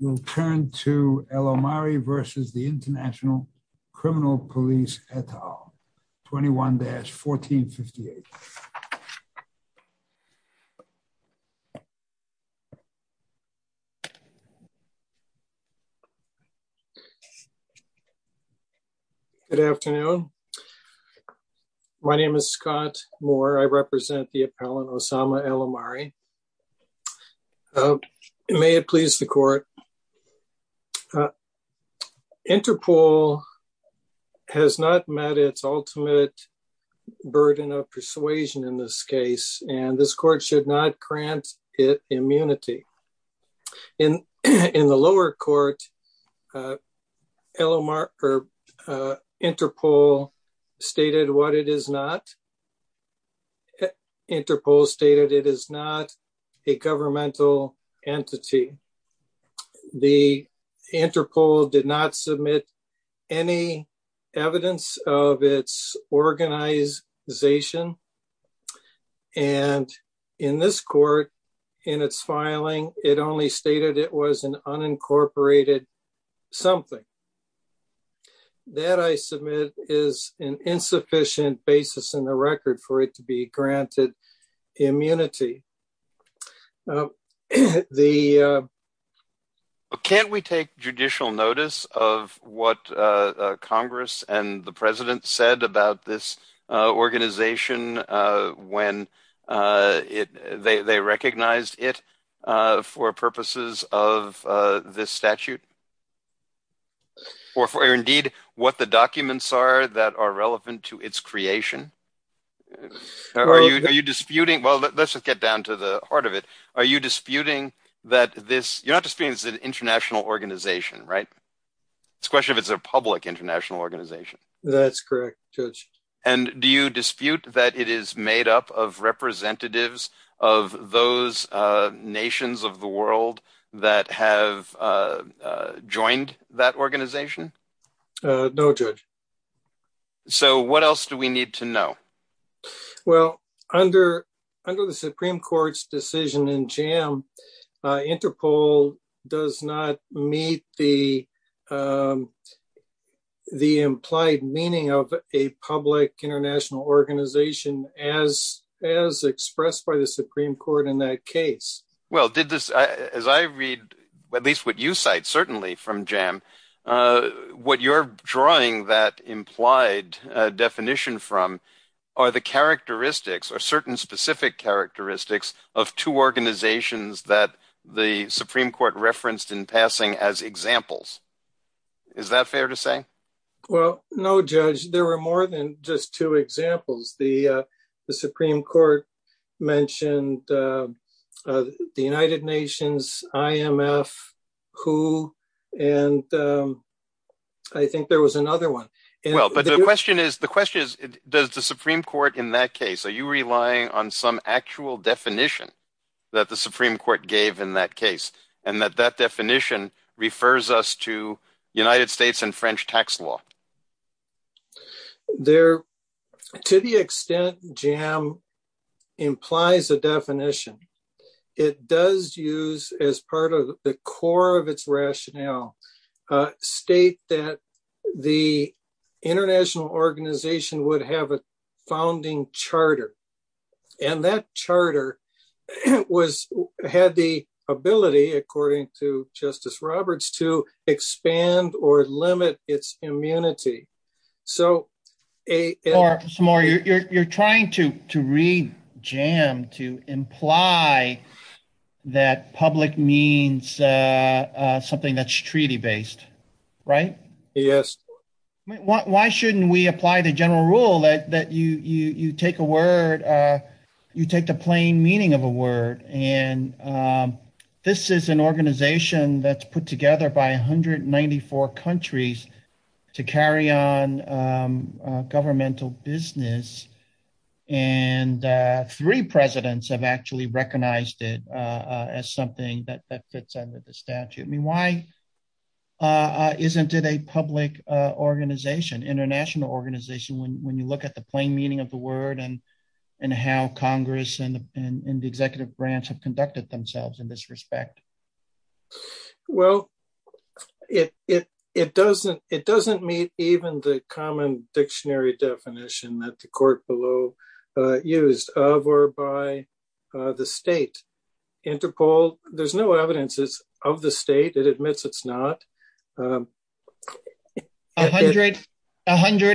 We'll turn to El Omari v. The International Criminal Police et al. 21-1458. Good afternoon. My name is Scott Moore. I represent the appellant Osama El Omari. May it please the court. Interpol has not met its ultimate burden of persuasion in this case, and this court should not grant it immunity. In the lower court, Interpol stated it is not a governmental entity. The Interpol did not submit any evidence of its organization, and in this court, in its filing, it only stated it was an unincorporated something. That, I submit, is an insufficient basis in the record for it to be granted immunity. Can't we take judicial notice of what Congress and the President said about this organization when they recognized it for purposes of this statute, or for indeed what the documents are that are relevant to its creation? Are you disputing, well let's just get down to the heart of it, are you disputing that this, you're not disputing it's an international organization, right? It's a question of it's a public international organization. That's correct, Judge. And do you dispute that it is joined that organization? No, Judge. So what else do we need to know? Well, under the Supreme Court's decision in JAM, Interpol does not meet the implied meaning of a public international organization as expressed by the Supreme Court. What you're drawing that implied definition from are the characteristics, or certain specific characteristics, of two organizations that the Supreme Court referenced in passing as examples. Is that fair to say? Well, no, Judge. There were more than just two and I think there was another one. Well, but the question is, does the Supreme Court in that case, are you relying on some actual definition that the Supreme Court gave in that case, and that that definition refers us to United States and French tax law? Well, to the extent JAM implies a definition, it does use as part of the core of its rationale, state that the international organization would have a founding charter. And that charter was had the ability, according to Justice Roberts, to expand or limit its immunity. So, Samar, you're trying to read JAM to imply that public means something that's treaty-based, right? Yes. Why shouldn't we apply the general rule that you take a word, you take the plain meaning of a word, and this is an organization that's put together by 194 countries to carry on governmental business. And three presidents have actually recognized it as something that fits under the statute. I mean, why isn't it a public organization, international organization, when you look at the plain meaning of the word and how Congress and the executive branch have conducted themselves in this respect? Well, it doesn't meet even the common dictionary definition that the court below used of or by the state. Interpol, there's no evidence of the state, it admits it's not. A hundred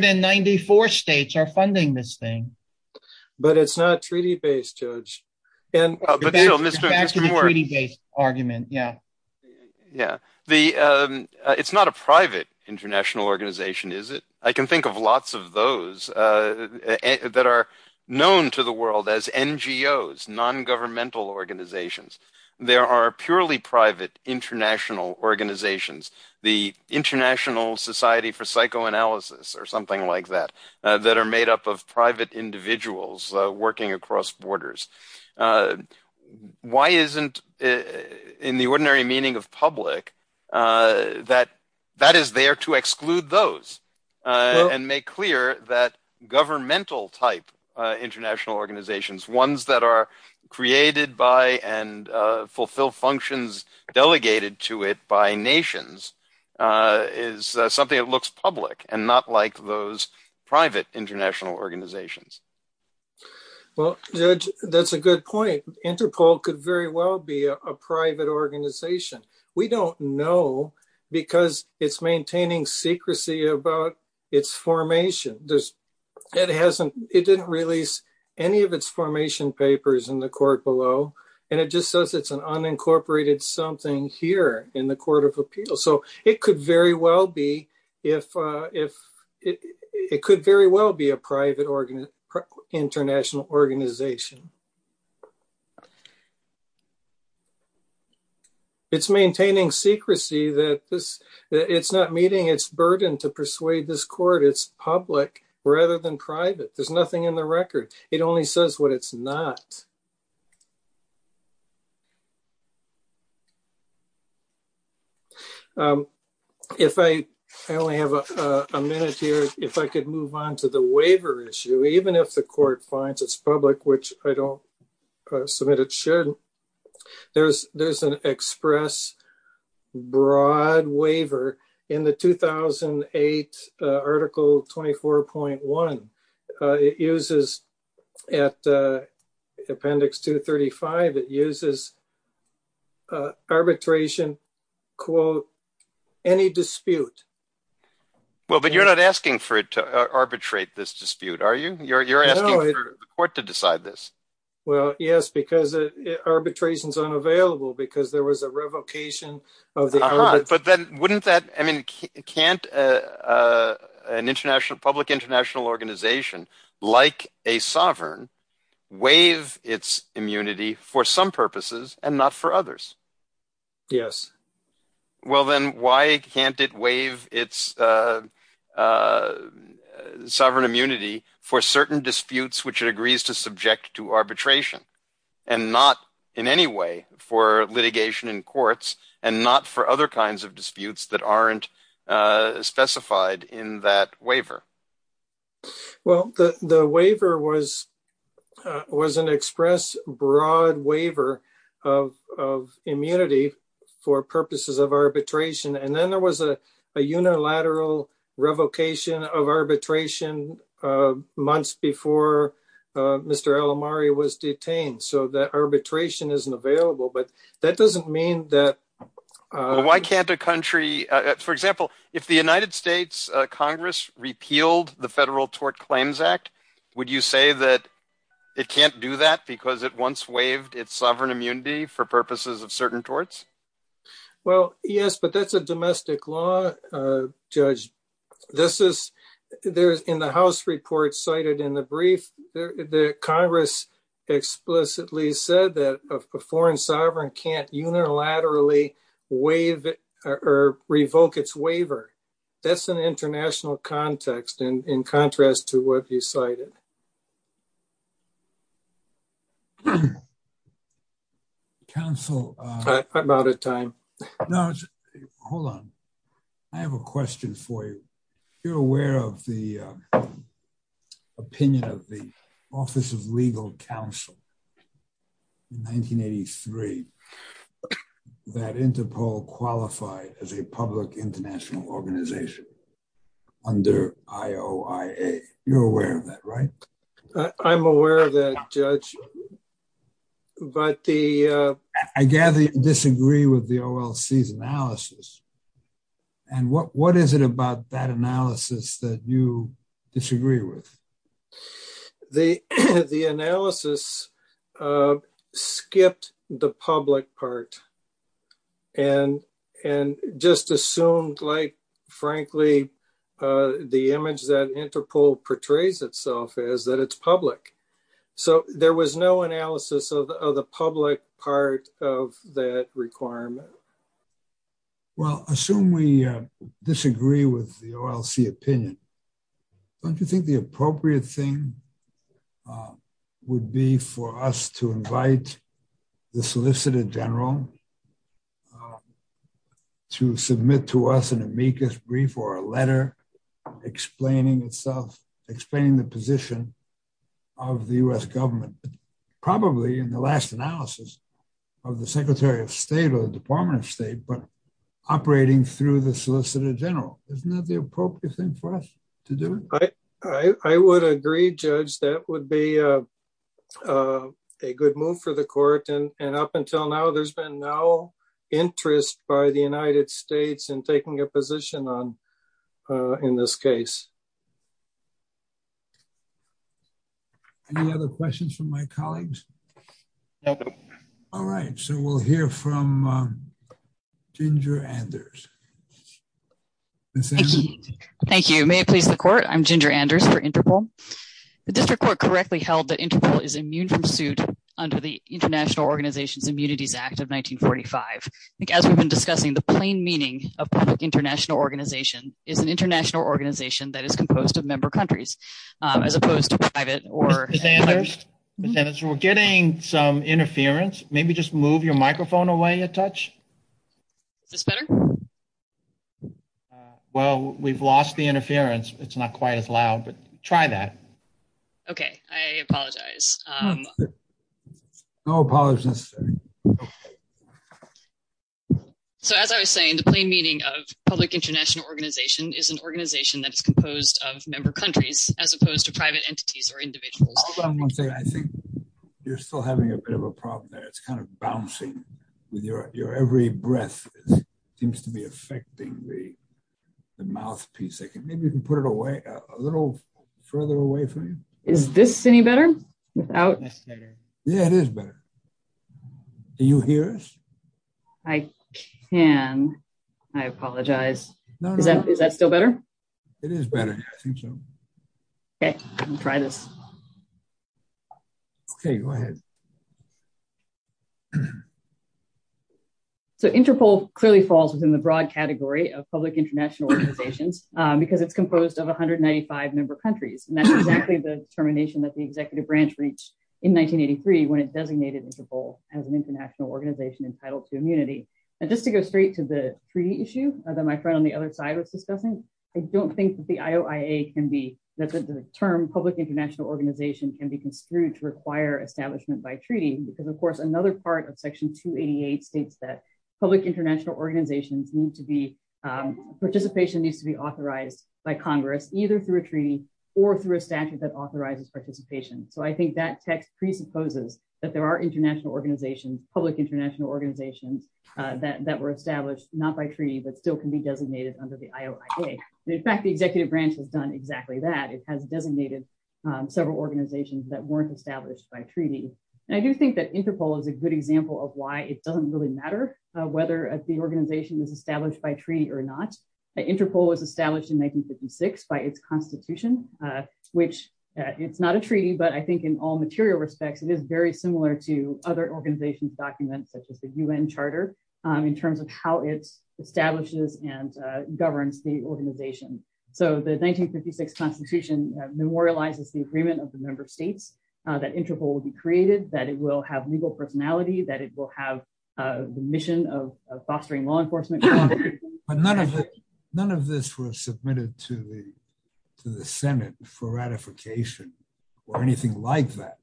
and ninety-four states are funding this thing. But it's not treaty-based, Judge. Back to the treaty-based argument, yeah. Yeah. It's not a private international organization, is it? I can think of lots of those that are known to the world as NGOs, non-governmental organizations. There are purely private international organizations, the International Society for Psychoanalysis or something like that, that are made up of private individuals working across borders. Why isn't, in the ordinary meaning of public, that that is there to exclude those and make clear that governmental-type international organizations, ones that are delegated to it by nations, is something that looks public and not like those private international organizations? Well, Judge, that's a good point. Interpol could very well be a private organization. We don't know because it's maintaining secrecy about its formation. It didn't release any of its formation papers in the court below, and it just says it's an unincorporated something here in the Court of Appeals. So, it could very well be a private international organization. It's maintaining secrecy that it's not meeting its burden to persuade this court. It's public rather than private. There's nothing in the record. It only says what it's not. I only have a minute here. If I could move on to the waiver issue, even if the court finds it's public, which I don't submit it should, there's an express broad waiver in the 2008 Article 24.1. It uses, at Appendix 235, it uses arbitration, quote, any dispute. Well, but you're not asking for it to arbitrate this dispute, are you? You're asking the court to decide this. Well, yes, because arbitration is unavailable because there was a revocation of the element. But then, wouldn't that, I mean, can't an international, public international organization, like a sovereign, waive its immunity for some purposes and not for others? Yes. Well, then why can't it waive its sovereign immunity for certain disputes which it agrees to subject to arbitration, and not in any way for litigation in courts, and not for other kinds of disputes that aren't specified in that waiver? Well, the waiver was an express broad waiver of immunity for purposes of arbitration. And then there was a unilateral revocation of arbitration months before Mr. McCain, so that arbitration isn't available. But that doesn't mean that... Why can't a country, for example, if the United States Congress repealed the Federal Tort Claims Act, would you say that it can't do that because it once waived its sovereign immunity for purposes of certain torts? Well, yes, but that's a domestic law, Judge. In the House report cited in the brief, the Congress explicitly said that a foreign sovereign can't unilaterally waive or revoke its waiver. That's an international context in contrast to what you cited. Counsel... I'm out of time. No, hold on. I have a question for you. You're aware of the opinion of the Office of Legal Counsel in 1983 that Interpol qualified as a public international organization under IOIA. You're aware of that, right? I'm aware of that, Judge, but the... I gather you disagree with the OLC's analysis. And what is it about that analysis that you disagree with? The analysis skipped the public part and just assumed, frankly, the image that Interpol portrays itself as, that it's public. So, there was no analysis of the public part of that requirement. Well, assume we disagree with the OLC opinion. Don't you think the appropriate thing would be for us to invite the Solicitor General to submit to us an amicus brief or a letter explaining itself, explaining the position of the U.S. government? Probably in the last analysis of the Secretary of State or the Department of State, but operating through the Solicitor General. Isn't that the appropriate thing for us to do? I would agree, Judge. That would be a good move for the Court. And up until now, there's been no interest by the United States in taking a position in this case. Any other questions from my colleagues? No. All right. So, we'll hear from Ginger Anders. Thank you. May it please the Court, I'm Ginger Anders for Interpol. The District Court correctly held that Interpol is immune from suit under the International Organizations Immunities Act of 1945. I think as we've been discussing, the plain meaning of public international organization is an international organization that is composed of member countries, as opposed to private or- We're getting some interference. Maybe just move your microphone away a touch. Is this better? Well, we've lost the interference. It's not quite as loud, but try that. Okay. I apologize. No apologies necessary. So, as I was saying, the plain meaning of public international organization is an organization that is composed of member countries, as opposed to private entities or individuals. I think you're still having a bit of a problem there. It's kind of bouncing with your every breath. It seems to be affecting the mouthpiece. Maybe you can put it away, a little further away from you. Is this any better? Yeah, it is better. Do you hear us? I can. I apologize. Is that still better? It is better. I think so. Okay. I'll try this. Okay. Go ahead. So, Interpol clearly falls within the broad category of public international organizations because it's composed of 195 member countries. And that's exactly the determination that the executive branch reached in 1983 when it designated Interpol as an international organization entitled to immunity. And just to go straight to the treaty issue that my friend on the other side was discussing, I don't think that the term public international organization can be construed to require establishment by treaty because, of course, another part of Section 288 states that public international organizations need to be, participation needs to be authorized by Congress, either through a treaty or through a statute that authorizes participation. So, I think that text presupposes that there are international organizations, public international organizations that were established, not by treaty, but still can be designated under the IOIA. In fact, the executive branch has done exactly that. It has designated several organizations that weren't established by treaty. And I do think that Interpol is a good example of why it doesn't really matter whether the organization is established by treaty or not. Interpol was established in 1956 by its constitution, which it's not a treaty, but I think in all material respects, it is very similar to other organizations' documents, such as the UN Charter, in terms of how it establishes and governs the organization. So, the 1956 constitution memorializes the agreement of the member states that Interpol will be created, that it will have legal personality, that it will have the mission of fostering law enforcement. But none of this was submitted to the Senate for ratification or anything like that.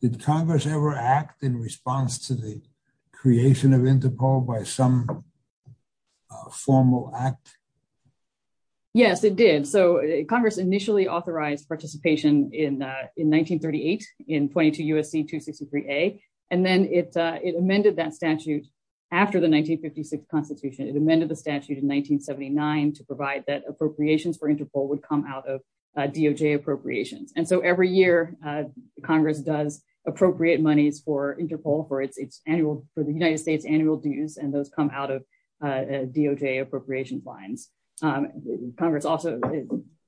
Did Congress ever act in response to the creation of Interpol by some formal act? Yes, it did. So, Congress initially authorized participation in 1938 in 22 U.S.C. 263a, and then it amended that statute after the 1956 constitution. It amended the statute in 1979 to that appropriations for Interpol would come out of DOJ appropriations. And so, every year, Congress does appropriate monies for Interpol for its annual, for the United States' annual dues, and those come out of DOJ appropriation fines. Congress also,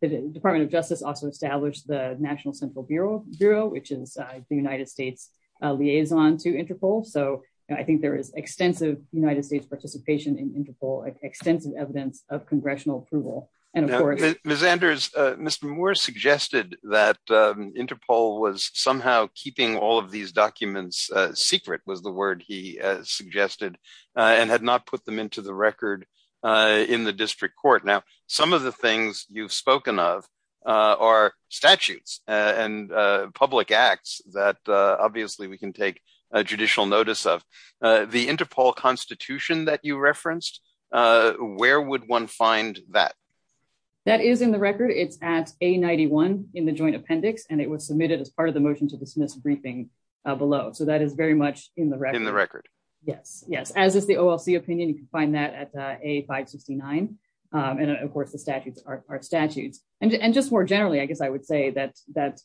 the Department of Justice also established the National Central Bureau, which is the United States' liaison to Interpol. So, I think there is extensive United States participation in Interpol, extensive evidence of congressional approval. And of course... Ms. Anders, Mr. Moore suggested that Interpol was somehow keeping all of these documents secret, was the word he suggested, and had not put them into the record in the district court. Now, some of the things you've spoken of are statutes and public acts that obviously we can take judicial notice of. The Interpol constitution that you find that? That is in the record. It's at A91 in the joint appendix, and it was submitted as part of the motion to dismiss briefing below. So, that is very much in the record. In the record. Yes, yes. As is the OLC opinion, you can find that at A569. And of course, the statutes are statutes. And just more generally, I guess I would say that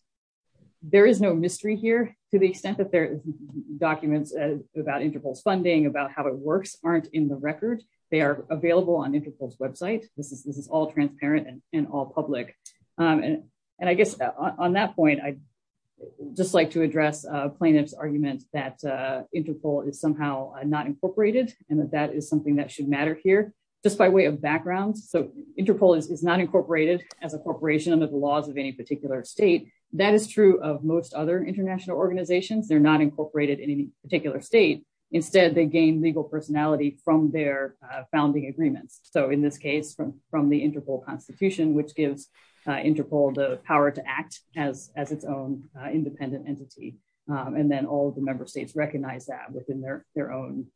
there is no mystery here to the extent that documents about Interpol's funding, about how it works, aren't in the record. They are available on Interpol's website. This is all transparent and all public. And I guess on that point, I'd just like to address plaintiff's argument that Interpol is somehow not incorporated, and that that is something that should matter here, just by way of background. So, Interpol is not incorporated as a corporation under the laws of any particular state. That is true of most other international organizations. They're not incorporated in any particular state. Instead, they gain legal personality from their founding agreements. So, in this case, from the Interpol Constitution, which gives Interpol the power to act as its own independent entity. And then all of the member states recognize that within their own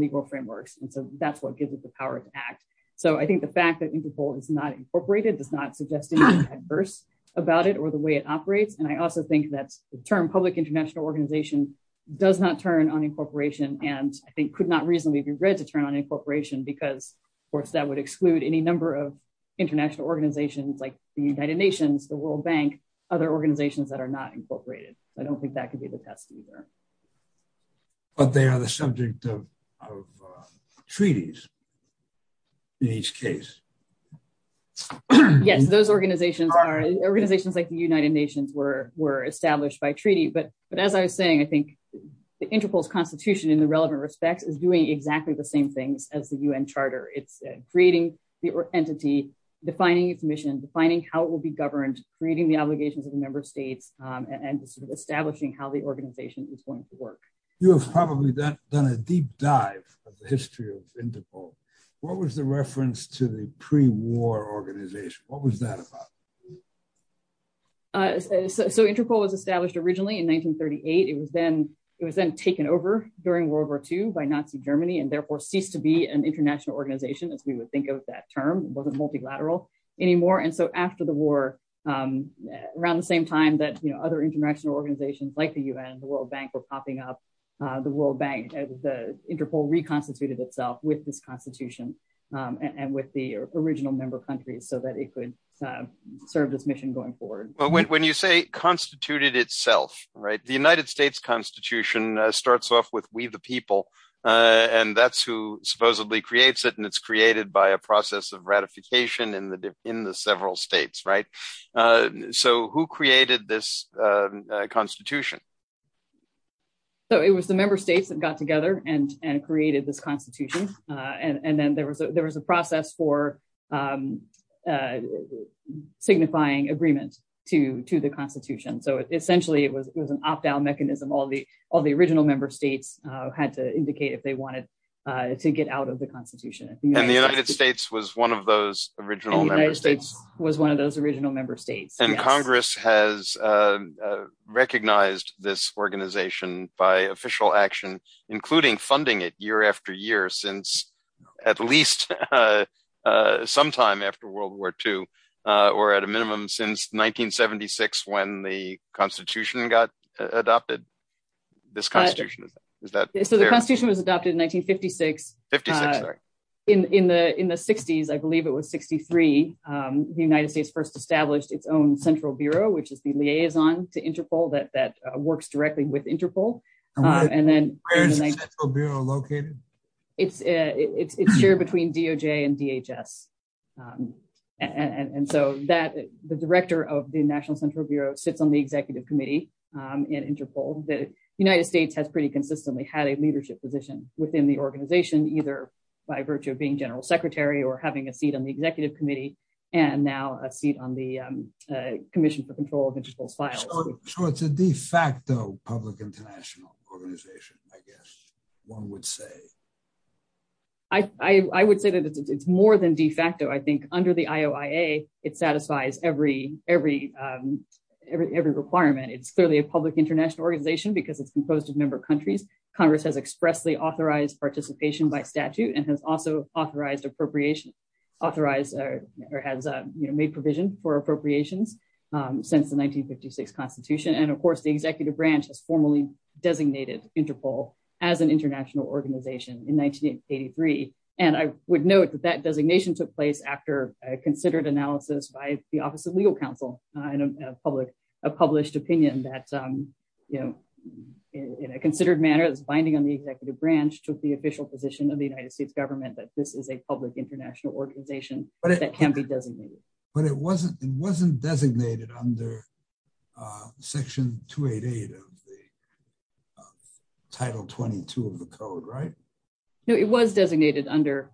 legal frameworks. And so, that's what gives it the power to act. So, I think the fact that Interpol is not incorporated does not suggest anything adverse about it or the way it operates. And I also think that the term public international organization does not turn on incorporation and I think could not reasonably be read to turn on incorporation because of course that would exclude any number of international organizations like the United Nations, the World Bank, other organizations that are not incorporated. I don't think that could be the test either. But they are the subject of treaties in each case. Yes, those organizations are organizations like the United Nations were established by treaty. But as I was saying, the Interpol's constitution in the relevant respects is doing exactly the same things as the UN Charter. It's creating the entity, defining its mission, defining how it will be governed, creating the obligations of the member states, and establishing how the organization is going to work. You have probably done a deep dive of the history of Interpol. What was the reference to the pre-war organization? What was that about? So Interpol was established originally in 1938. It was then taken over during World War II by Nazi Germany and therefore ceased to be an international organization as we would think of that term. It wasn't multilateral anymore. And so after the war, around the same time that other international organizations like the UN and the World Bank were popping up, the Interpol reconstituted itself with this constitution and with the original member countries so that it could serve this mission going forward. But when you say constituted itself, right, the United States Constitution starts off with we the people, and that's who supposedly creates it. And it's created by a process of ratification in the several states, right? So who created this constitution? So it was the member states that got together and created this signifying agreement to the constitution. So essentially it was an opt-out mechanism. All the original member states had to indicate if they wanted to get out of the constitution. And the United States was one of those original member states. Was one of those original member states. And Congress has recognized this organization by official action, including funding it year since at least sometime after World War II or at a minimum since 1976 when the constitution got adopted, this constitution. So the constitution was adopted in 1956. In the 60s, I believe it was 63, the United States first established its own central bureau, which is the liaison to Interpol that works directly with Interpol. And where is the central bureau located? It's shared between DOJ and DHS. And so the director of the National Central Bureau sits on the executive committee in Interpol. The United States has pretty consistently had a leadership position within the organization, either by virtue of being general secretary or having a seat on the executive committee and now a seat on the commission for control of Interpol's files. So it's a de facto public international organization, I guess one would say. I would say that it's more than de facto. I think under the IOIA, it satisfies every requirement. It's clearly a public international organization because it's composed of member countries. Congress has expressly authorized participation by statute and has also of course, the executive branch has formally designated Interpol as an international organization in 1983. And I would note that that designation took place after a considered analysis by the office of legal counsel and a published opinion that in a considered manner, this binding on the executive branch took the official position of the United States government that this is a public international organization that can be designated. But it wasn't designated under section 288 of the title 22 of the code, right? No, it was designated under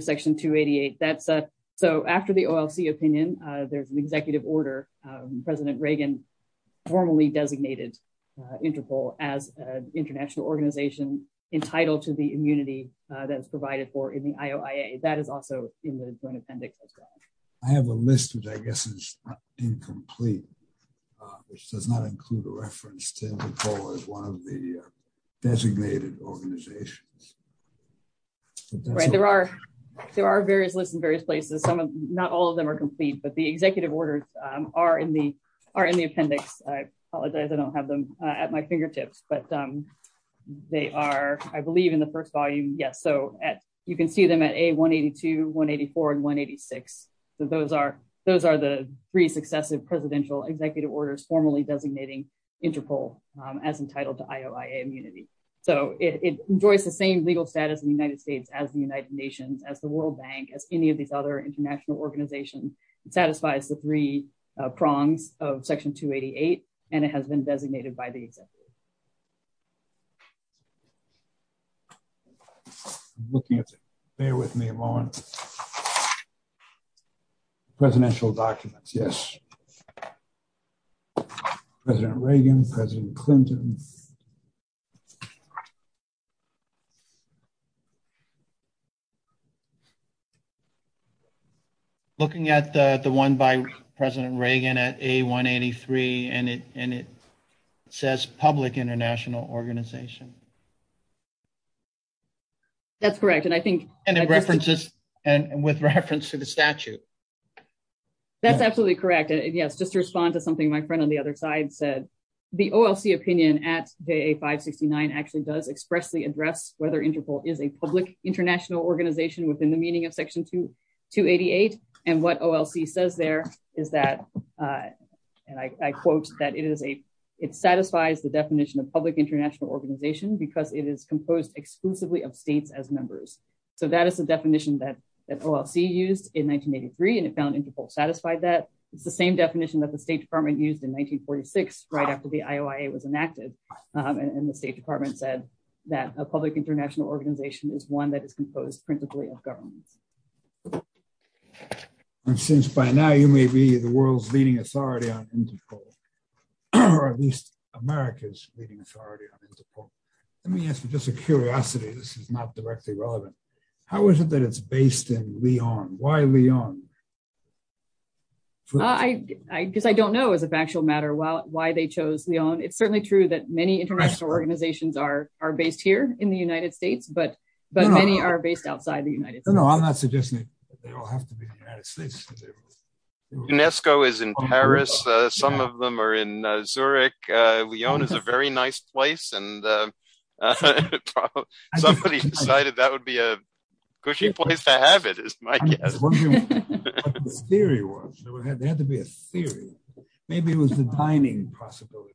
section 288. So after the OLC opinion, there's an executive order. President Reagan formally designated Interpol as an international organization entitled to the immunity that's provided for in the IOIA. That is also in the joint appendix. I have a list, which I guess is incomplete, which does not include a reference to Interpol as one of the designated organizations. There are various lists in various places. Not all of them are complete, but the executive orders are in the appendix. I apologize, I don't have them at my fingertips, but they are, I believe in the first volume. Yes. So you can see them at A182, 184, and 186. So those are the three successive presidential executive orders formally designating Interpol as entitled to IOIA immunity. So it enjoys the same legal status in the United States as the United Nations, as the World Bank, as any of these other international organizations. It satisfies the three prongs of section 288, and it has been designated by the executive. Looking at it, bear with me a moment. Presidential documents, yes. President Reagan, President Clinton. Looking at the one by President Reagan at A183, and it says public international organization. That's correct, and I think- And it references, and with reference to the statute. That's absolutely correct. Yes, just to respond to something my friend on the other side said, at A569 actually does expressly address whether Interpol is a public international organization within the meaning of section 288, and what OLC says there is that, and I quote, that it is a, it satisfies the definition of public international organization because it is composed exclusively of states as members. So that is the definition that OLC used in 1983, and it found Interpol satisfied that. It's the same definition that the State Department used in 1946, right after the and the State Department said that a public international organization is one that is composed principally of governments. And since by now you may be the world's leading authority on Interpol, or at least America's leading authority on Interpol, let me ask you just a curiosity. This is not directly relevant. How is it that it's based in Lyon? Why Lyon? I guess I don't know as a factual matter why they chose Lyon. It's certainly true many international organizations are based here in the United States, but many are based outside the United States. No, I'm not suggesting they all have to be in the United States. UNESCO is in Paris. Some of them are in Zurich. Lyon is a very nice place, and somebody decided that would be a cushy place to have it, is my guess. I was wondering what the theory was. There had to be a theory. Maybe it was the dining possibilities.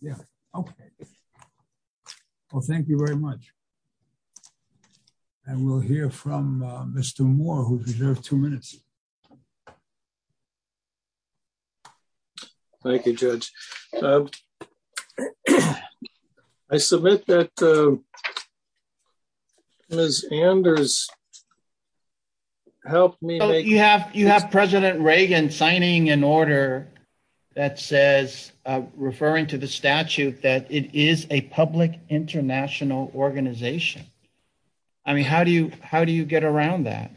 Yeah, okay. Well, thank you very much. And we'll hear from Mr. Moore, who's reserved two minutes. Thank you, Judge. I submit that Ms. Anders helped me. You have President Reagan signing an order that says, referring to the statute, that it is a public international organization. I mean, how do you get around that?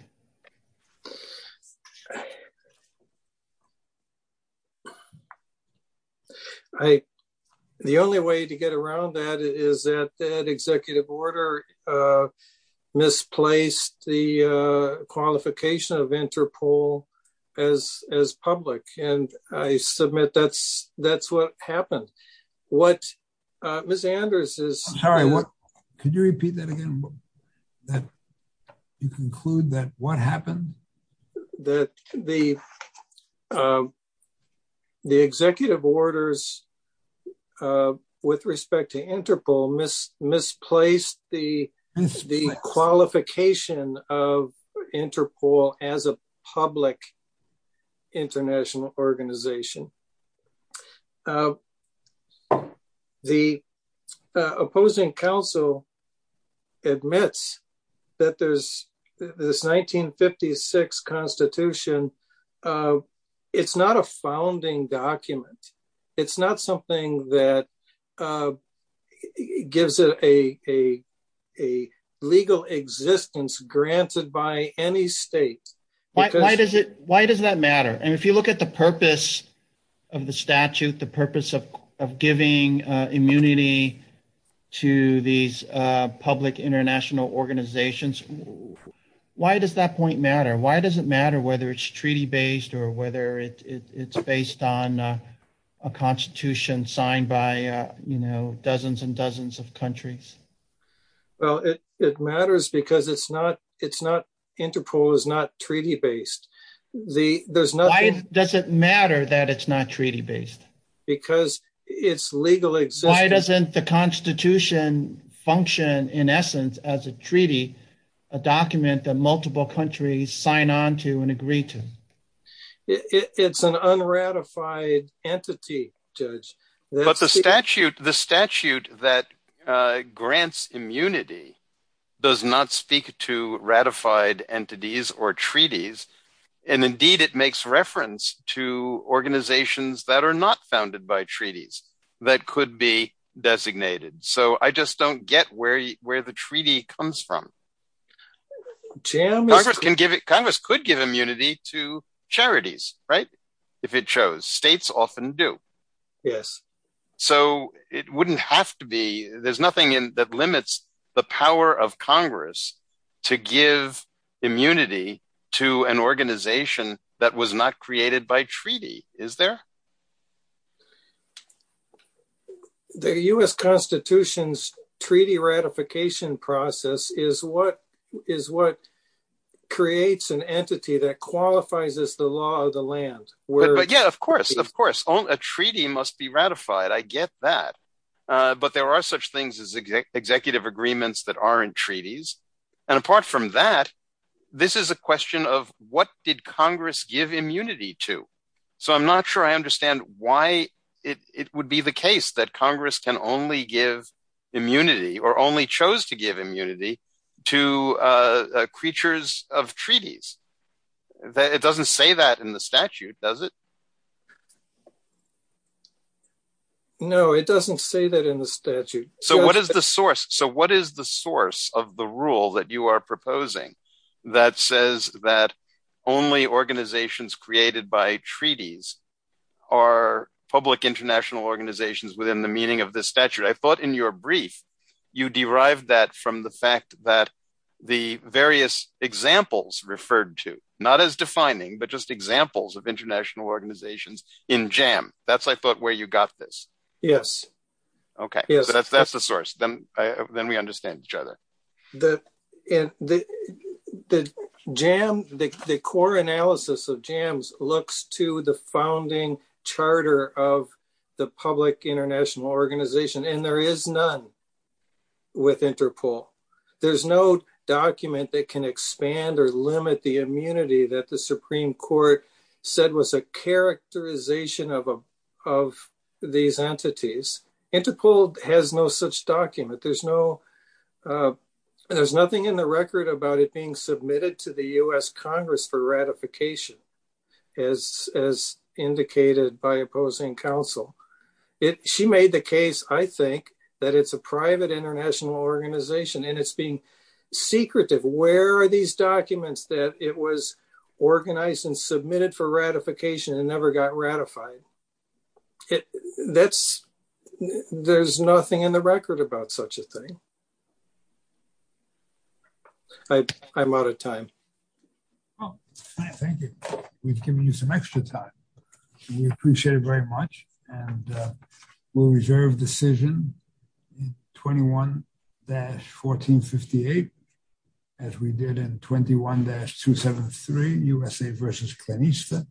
I, the only way to get around that is that that executive order misplaced the qualification of Interpol as public, and I submit that's what happened. What Ms. Anders is- Sorry, what? Could you repeat that again? That you conclude that what happened is that that the executive orders with respect to Interpol misplaced the qualification of Interpol as a public international organization. The opposing council admits that there's this 1956 constitution. It's not a founding document. It's not something that gives it a legal existence granted by any state. Why does it, why does that matter? And if you look at the purpose of the statute, the purpose of giving immunity to these public international organizations, why does that point matter? Why does it matter whether it's treaty-based or whether it's based on a constitution signed by, you know, dozens and dozens of countries? Well, it matters because it's not, it's not, Interpol is not treaty-based. There's nothing- Why does it matter that it's not treaty-based? Because it's legal existence- Why doesn't the constitution function, in essence, as a treaty, a document that multiple countries sign on to and agree to? It's an unratified entity, Judge. But the statute, the statute that grants immunity does not speak to ratified entities or treaties. And indeed, it makes reference to organizations that are not founded by treaties that could be designated. So I just don't get where, where the treaty comes from. Congress can give it, Congress could give immunity to charities, right? If it shows, states often do. Yes. So it wouldn't have to be, there's nothing in that limits the power of Congress to give immunity to an organization that was not created by treaty, is there? The US Constitution's treaty ratification process is what, is what creates an entity that qualifies as the law of the land. Yeah, of course, of course, a treaty must be ratified. I get that. But there are such things as executive agreements that aren't treaties. And apart from that, this is a question of what did Congress give immunity to? So I'm not sure I understand why it would be the case that Congress can only give immunity or only chose to give immunity to creatures of treaties. It doesn't say that in the statute, does it? No, it doesn't say that in the statute. So what is the source? So what is the source of the rule that you are proposing that says that only organizations created by treaties are public international organizations within the meaning of the statute? I thought in your brief, you derived that from the fact that the various examples referred to, not as defining, but just examples of international organizations in JAM. That's, I thought, where you got this. Yes. Okay, yes, that's the source, then we understand each other. The core analysis of JAMS looks to the founding charter of the public international organization, and there is none with Interpol. There's no document that can expand or limit the immunity that the Supreme Court said was a characterization of these entities. Interpol has no such document, there's no, there's nothing in the record about it being submitted to the US Congress for ratification, as indicated by opposing counsel. She made the case, I think, that it's a private international organization and it's being secretive. Where are these documents that it was organized and submitted for ratification and never got ratified? It, that's, there's nothing in the record about such a thing. I, I'm out of time. Oh, thank you. We've given you some extra time. We appreciate it very much, and we'll reserve decision 21-1458, as we did in 21-273, USA versus Klenista, and we'll